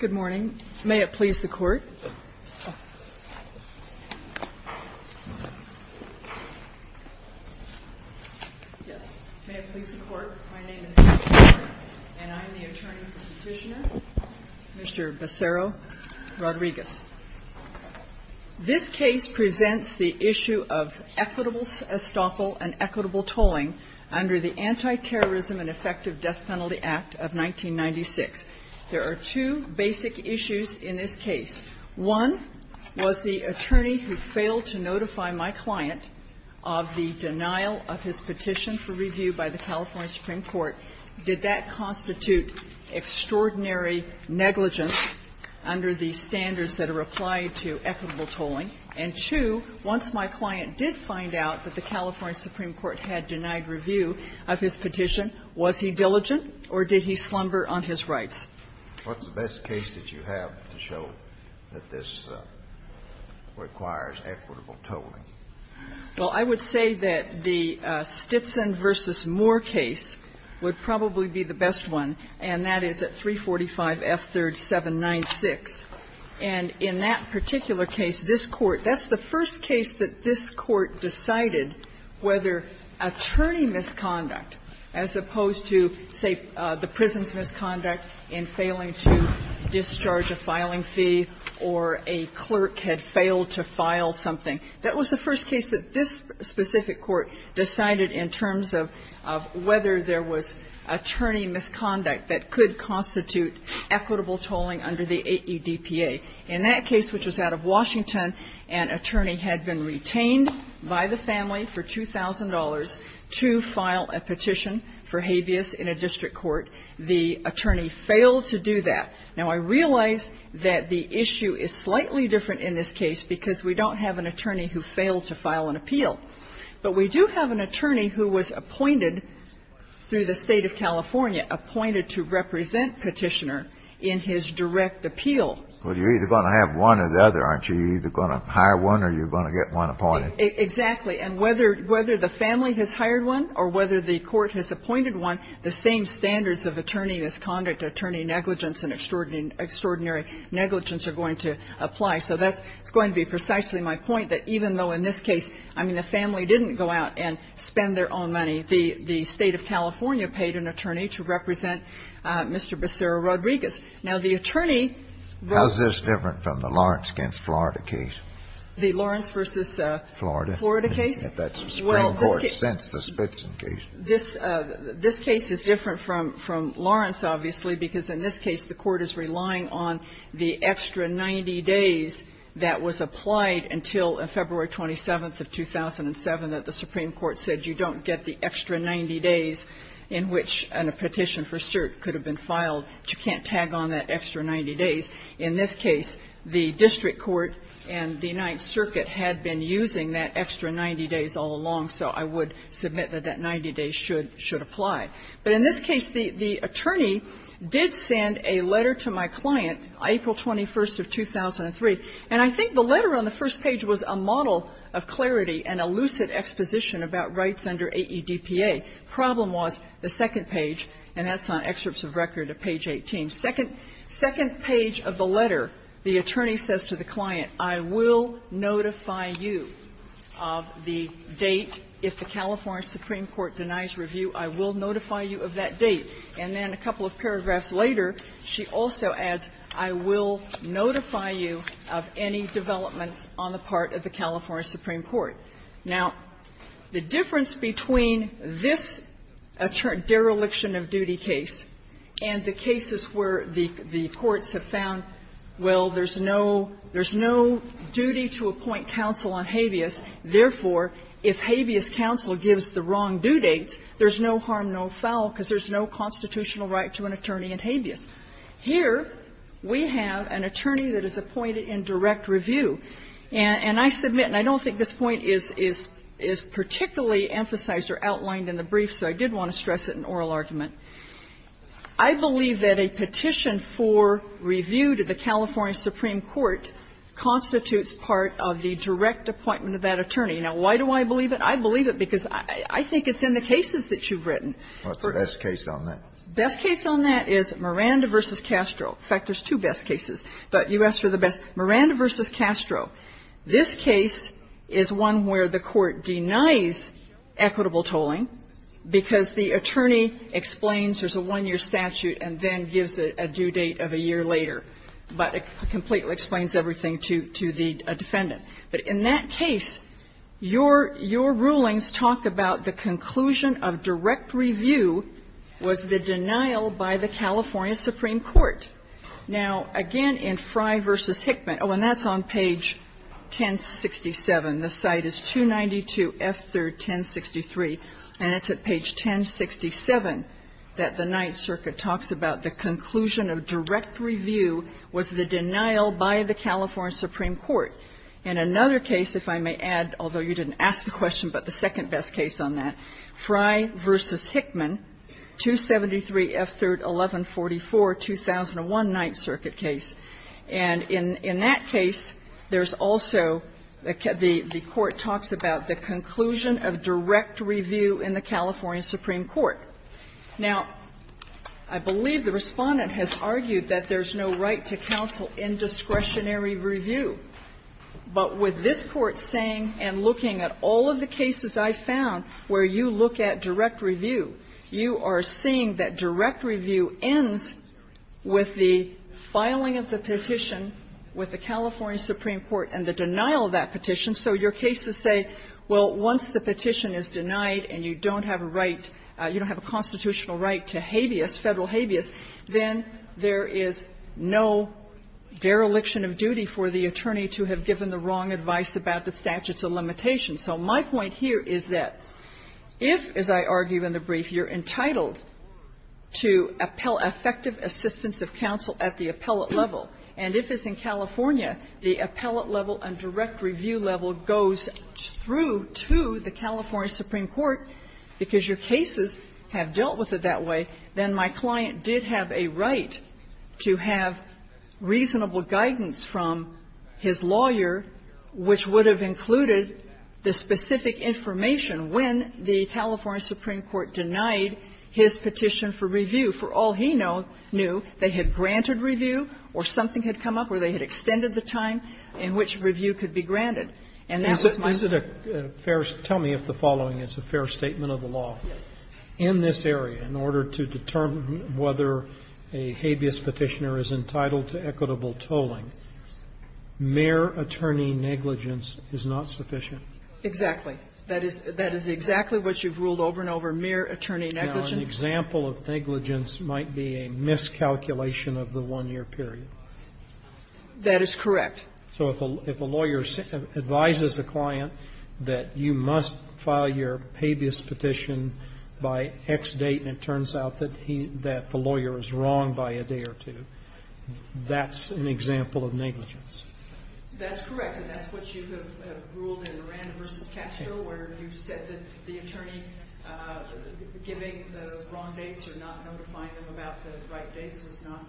Good morning. May it please the Court. This case presents the issue of equitable estoffel and equitable tolling under the Anti-Terrorism and Effective Death Penalty Act of 1996. There are two basic issues in this case. One was the attorney who failed to notify my client of the denial of his petition for review by the California Supreme Court. Did that constitute extraordinary negligence under the standards that are applied to equitable tolling? And two, once my client did find out that the California Supreme Court had denied review of his petition, was he diligent, or did he slumber on his rights? What's the best case that you have to show that this requires equitable tolling? Well, I would say that the Stitson v. Moore case would probably be the best one, and that is at 345 F. 3rd, 796. And in that particular case, this Court – that's the first case that this Court decided whether attorney misconduct, as opposed to, say, the prison's misconduct in failing to discharge a filing fee or a clerk had failed to file something, that was the first case that this specific Court decided in terms of whether there was attorney misconduct that could constitute equitable tolling under the AEDPA. In that case, which was out of Washington, an attorney had been retained by the family for $2,000 to file a petition for habeas in a district court. The attorney failed to do that. Now, I realize that the issue is slightly different in this case because we don't have an attorney who failed to file an appeal. But we do have an attorney who was appointed through the State of California, appointed to represent Petitioner in his direct appeal. Well, you're either going to have one or the other, aren't you? You're either going to hire one or you're going to get one appointed. Exactly. And whether the family has hired one or whether the Court has appointed one, the same standards of attorney misconduct, attorney negligence, and extraordinary negligence are going to apply. So that's going to be precisely my point, that even though in this case, I mean, the family didn't go out and spend their own money. The State of California paid an attorney to represent Mr. Becerra-Rodriguez. Now, the attorney rel- How is this different from the Lawrence v. Florida case? The Lawrence v. Florida case? That's the Supreme Court since the Spitzen case. This case is different from Lawrence, obviously, because in this case, the Court is relying on the extra 90 days that was applied until February 27th of 2007 that the Supreme Court said you don't get the extra 90 days in which a petition for cert could have been filed. You can't tag on that extra 90 days. In this case, the district court and the United Circuit had been using that extra 90 days all along, so I would submit that that 90 days should apply. But in this case, the attorney did send a letter to my client, April 21st of 2003. And I think the letter on the first page was a model of clarity and a lucid exposition about rights under AEDPA. The problem was the second page, and that's on excerpts of record of page 18. Second page of the letter, the attorney says to the client, I will notify you of the date if the California Supreme Court denies review, I will notify you of that date. And then a couple of paragraphs later, she also adds, I will notify you of any developments on the part of the California Supreme Court. Now, the difference between this dereliction-of-duty case and the cases where the courts have found, well, there's no duty to appoint counsel on habeas, therefore, if habeas counsel gives the wrong due dates, there's no harm, no foul because there's no constitutional right to an attorney in habeas. Here, we have an attorney that is appointed in direct review. And I submit, and I don't think this point is particularly emphasized or outlined in the brief, so I did want to stress it in oral argument. I believe that a petition for review to the California Supreme Court constitutes part of the direct appointment of that attorney. Now, why do I believe it? I believe it because I think it's in the cases that you've written. Kennedy, What's the best case on that? Best case on that is Miranda v. Castro. In fact, there's two best cases, but you asked for the best. Miranda v. Castro, this case is one where the court denies equitable tolling because the attorney explains there's a one-year statute and then gives a due date of a year later, but it completely explains everything to the defendant. But in that case, your rulings talk about the conclusion of direct review was the denial by the California Supreme Court. Now, again, in Fry v. Hickman, oh, and that's on page 1067. The site is 292F3rd1063, and it's at page 1067 that the Ninth Circuit talks about the conclusion of direct review was the denial by the California Supreme Court. In another case, if I may add, although you didn't ask the question, but the second best case on that, Fry v. Hickman, 273F3rd1144, 2001 Ninth Circuit case, and in that case, there's also the court talks about the conclusion of direct review in the California Supreme Court. Now, I believe the Respondent has argued that there's no right to counsel indiscretionary But with this Court saying and looking at all of the cases I've found where you look at direct review, you are seeing that direct review ends with the filing of the petition with the California Supreme Court and the denial of that petition, so your cases say, well, once the petition is denied and you don't have a right, you don't have a constitutional right to habeas, Federal habeas, then there is no dereliction of duty for the attorney to have given the wrong advice about the statutes of limitation. So my point here is that if, as I argue in the brief, you're entitled to appel effective assistance of counsel at the appellate level, and if it's in California, the appellate level and direct review level goes through to the California Supreme Court, because your cases have dealt with it that way, then my client did have a right to have reasonable guidance from his lawyer, which would have included the specific information when the California Supreme Court denied his petition for review. For all he knew, they had granted review or something had come up where they had extended the time in which review could be granted. And that was my point. Roberts. Tell me if the following is a fair statement of the law. In this area, in order to determine whether a habeas Petitioner is entitled to equitable tolling, mere attorney negligence is not sufficient. Exactly. That is exactly what you've ruled over and over, mere attorney negligence. Now, an example of negligence might be a miscalculation of the one-year period. That is correct. So if a lawyer advises a client that you must file your habeas petition by X date, and it turns out that the lawyer is wrong by a day or two, that's an example of negligence. That's correct. And that's what you have ruled in Miranda v. Castro, where you said that the attorney giving the wrong dates or not notifying them about the right dates was not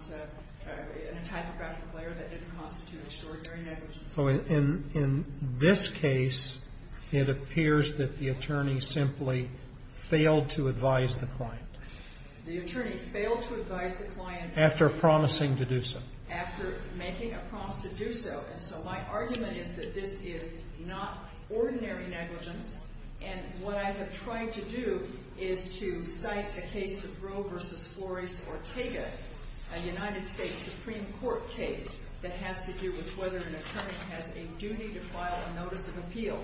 an entire graphic layer that didn't constitute extraordinary negligence. So in this case, it appears that the attorney simply failed to advise the client. The attorney failed to advise the client. After promising to do so. After making a promise to do so. And so my argument is that this is not ordinary negligence. And what I have tried to do is to cite the case of Roe v. Flores-Ortega, a United States Supreme Court case that has to do with whether an attorney has a duty to file a notice of appeal.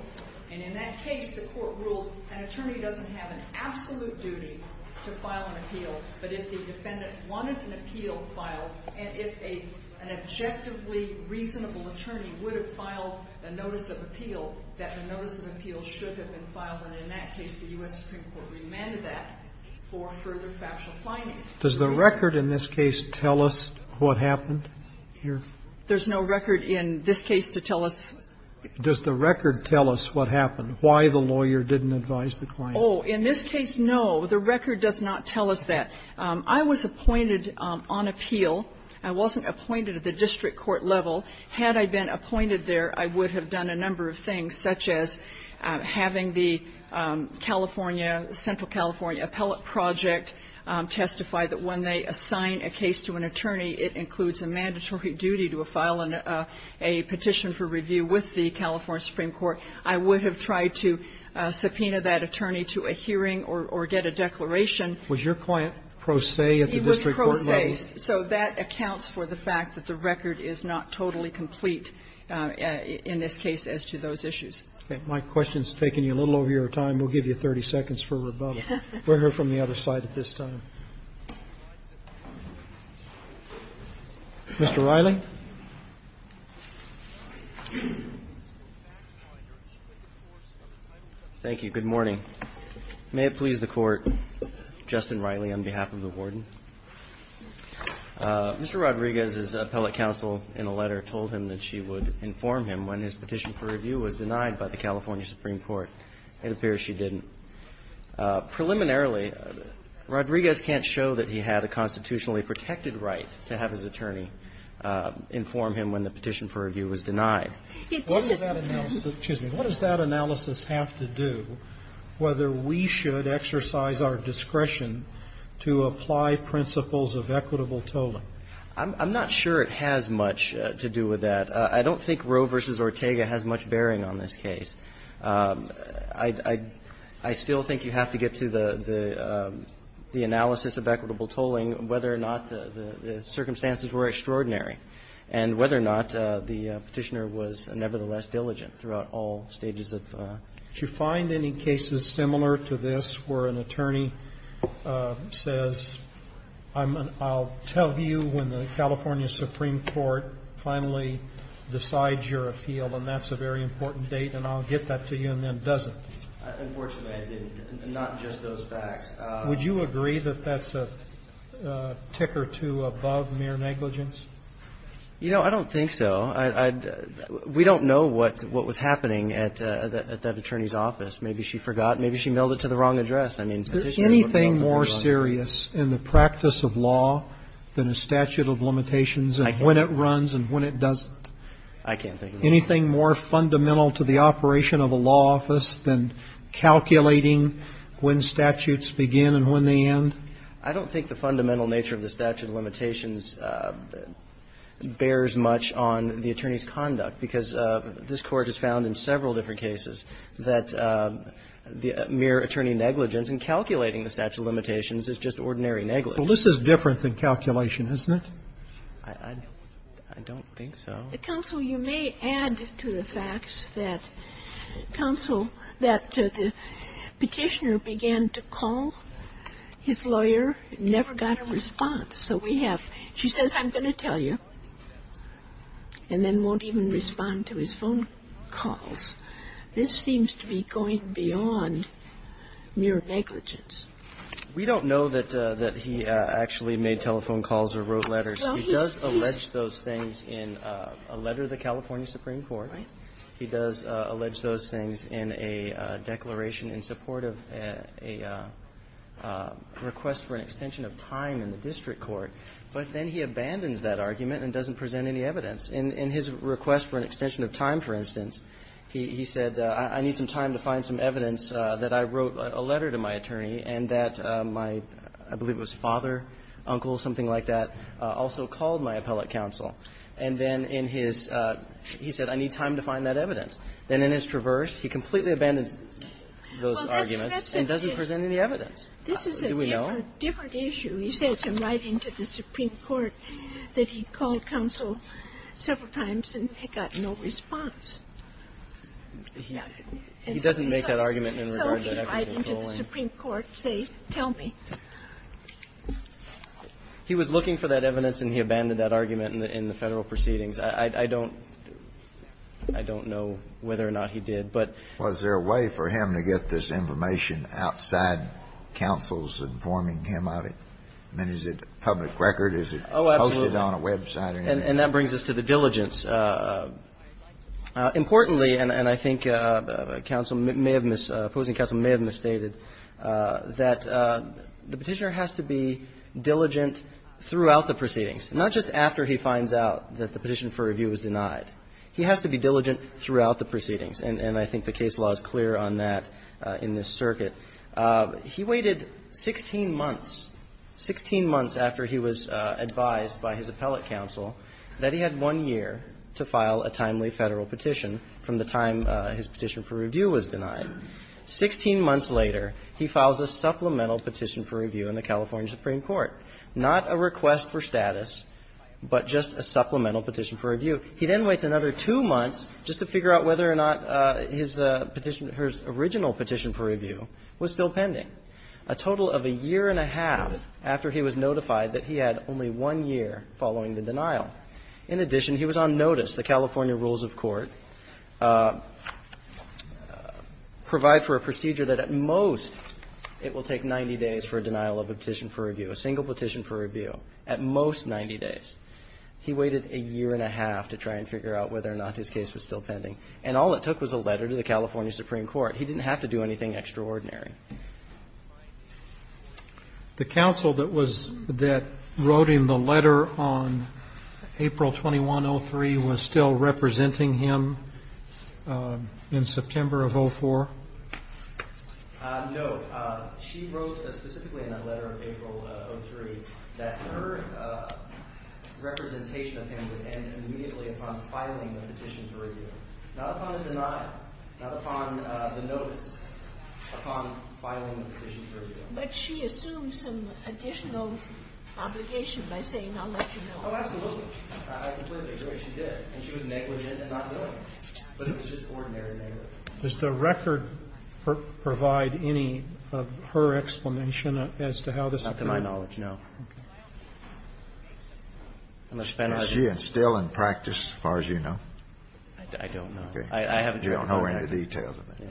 And in that case, the Court ruled an attorney doesn't have an absolute duty to file an appeal, but if the defendant wanted an appeal filed, and if an objectively reasonable attorney would have filed a notice of appeal, that the notice of appeal should have been filed. And in that case, the U.S. Supreme Court remanded that for further factual findings. Does the record in this case tell us what happened here? There's no record in this case to tell us. Does the record tell us what happened, why the lawyer didn't advise the client? Oh, in this case, no. The record does not tell us that. I was appointed on appeal. I wasn't appointed at the district court level. Had I been appointed there, I would have done a number of things, such as having the California, Central California Appellate Project testify that when they assign a case to an attorney, it includes a mandatory duty to file a petition for review with the California Supreme Court. I would have tried to subpoena that attorney to a hearing or get a declaration. Was your client pro se at the district court level? He was pro se. So that accounts for the fact that the record is not totally complete in this case as to those issues. Okay. My question's taking you a little over your time. We'll give you 30 seconds for rebuttal. We'll hear from the other side at this time. Mr. Riley? Thank you. Good morning. May it please the Court, Justin Riley, on behalf of the Warden. Mr. Rodriguez's appellate counsel in a letter told him that she would inform him when his petition for review was denied by the California Supreme Court. It appears she didn't. Preliminarily, Rodriguez can't show that he had a constitutionally protected right to have his attorney inform him when the petition for review was denied. What does that analysis have to do, whether we should exercise our discretion to apply principles of equitable tolling? I'm not sure it has much to do with that. I don't think Roe v. Ortega has much bearing on this case. I still think you have to get to the analysis of equitable tolling, whether or not the circumstances were extraordinary, and whether or not the Petitioner was nevertheless diligent throughout all stages of. Do you find any cases similar to this where an attorney says, I'll tell you when the Petitioner decides your appeal, and that's a very important date, and I'll get that to you, and then doesn't? Unfortunately, I didn't. Not just those facts. Would you agree that that's a tick or two above mere negligence? You know, I don't think so. We don't know what was happening at that attorney's office. Maybe she forgot. Maybe she mailed it to the wrong address. I mean, the Petitioner would possibly know. Is there anything more serious in the practice of law than a statute of limitations and when it runs and when it doesn't? I can't think of anything. Anything more fundamental to the operation of a law office than calculating when statutes begin and when they end? I don't think the fundamental nature of the statute of limitations bears much on the attorney's conduct, because this Court has found in several different cases that the mere attorney negligence in calculating the statute of limitations is just ordinary negligence. Well, this is different than calculation, isn't it? I don't think so. Counsel, you may add to the facts that counsel, that the Petitioner began to call his lawyer, never got a response. So we have, she says, I'm going to tell you, and then won't even respond to his phone calls. This seems to be going beyond mere negligence. We don't know that he actually made telephone calls or wrote letters. He does allege those things in a letter to the California Supreme Court. He does allege those things in a declaration in support of a request for an extension of time in the district court. But then he abandons that argument and doesn't present any evidence. In his request for an extension of time, for instance, he said, I need some time to find some evidence that I wrote a letter to my attorney and that my, I believe it was father, uncle, something like that, also called my appellate counsel. And then in his, he said, I need time to find that evidence. And in his traverse, he completely abandons those arguments and doesn't present any evidence. Do we know? This is a different issue. He says in writing to the Supreme Court that he called counsel several times and got no response. He doesn't make that argument in regard to that evidence at all. He was looking for that evidence, and he abandoned that argument in the Federal Proceedings. I don't know whether or not he did, but was there a way for him to get this information outside counsel's informing him of it? I mean, is it public record? Is it posted on a website or anything like that? And that brings us to the diligence. Importantly, and I think counsel may have missed, opposing counsel may have misstated, that the Petitioner has to be diligent throughout the proceedings, not just after he finds out that the petition for review was denied. He has to be diligent throughout the proceedings, and I think the case law is clear on that in this circuit. He waited 16 months, 16 months after he was advised by his appellate counsel that he had one year to file a timely Federal petition from the time his petition for review was denied. Sixteen months later, he files a supplemental petition for review in the California Supreme Court. Not a request for status, but just a supplemental petition for review. He then waits another two months just to figure out whether or not his petition or his original petition for review was still pending, a total of a year and a half after he was notified that he had only one year following the denial. In addition, he was on notice. The California rules of court provide for a procedure that at most it will take 90 days for a denial of a petition for review, a single petition for review, at most 90 days. He waited a year and a half to try and figure out whether or not his case was still pending, and all it took was a letter to the California Supreme Court. He didn't have to do anything extraordinary. The counsel that was, that wrote him the letter on April 21, 03, was still representing him in September of 04? No. She wrote specifically in that letter, April 03, that her representation of him would end immediately upon filing the petition for review, not upon a denial, not upon the notice, upon filing the petition for review. But she assumed some additional obligation by saying, I'll let you know. Oh, absolutely. I completely agree. She did. And she was negligent in not doing it. But it was just ordinary negligence. Does the record provide any of her explanation as to how this occurred? Not to my knowledge, no. Okay. Unless Ben has it. Is she still in practice, as far as you know? I don't know. Okay. I haven't heard any details of it.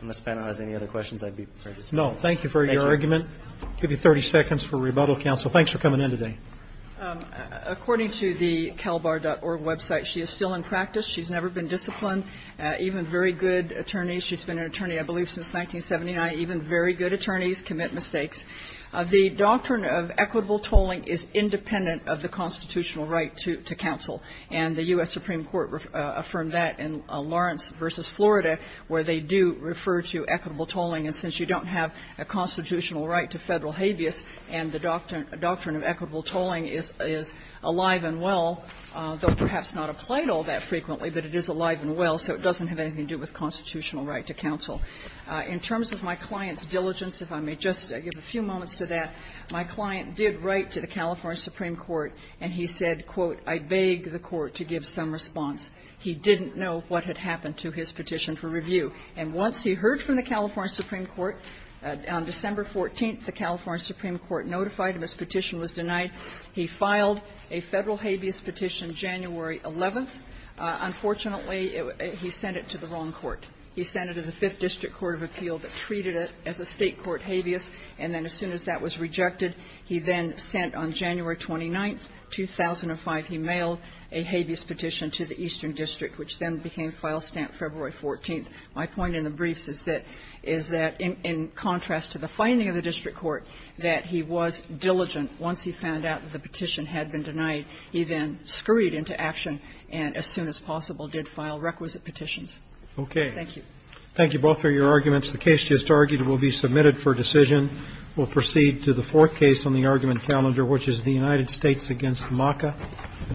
Unless Ben has any other questions, I'd be pleased to see. No. Thank you for your argument. I'll give you 30 seconds for rebuttal, counsel. Thanks for coming in today. According to the CalBAR.org website, she is still in practice. She's never been disciplined. Even very good attorneys, she's been an attorney, I believe, since 1979. Even very good attorneys commit mistakes. The doctrine of equitable tolling is independent of the constitutional right to counsel. And the U.S. Supreme Court affirmed that in Lawrence v. Florida, where they do refer to equitable tolling. And since you don't have a constitutional right to Federal habeas, and the doctrine of equitable tolling is alive and well, though perhaps not applied all that frequently, but it is alive and well, so it doesn't have anything to do with constitutional right to counsel. In terms of my client's diligence, if I may just give a few moments to that, my client did write to the California Supreme Court, and he said, quote, I beg the Court to give some response. He didn't know what had happened to his petition for review. And once he heard from the California Supreme Court, on December 14th, the California Supreme Court notified him his petition was denied. He filed a Federal habeas petition January 11th. Unfortunately, he sent it to the wrong court. He sent it to the Fifth District Court of Appeal that treated it as a State court habeas. And then as soon as that was rejected, he then sent on January 29th, 2005, he mailed a habeas petition to the Eastern District, which then became file stamp February 14th. My point in the briefs is that, is that, in contrast to the finding of the district court, that he was diligent. Once he found out that the petition had been denied, he then scurried into action and, as soon as possible, did file requisite petitions. Thank you. Thank you both for your arguments. The case just argued will be submitted for decision. We'll proceed to the fourth case on the argument calendar, which is the United States against MACA.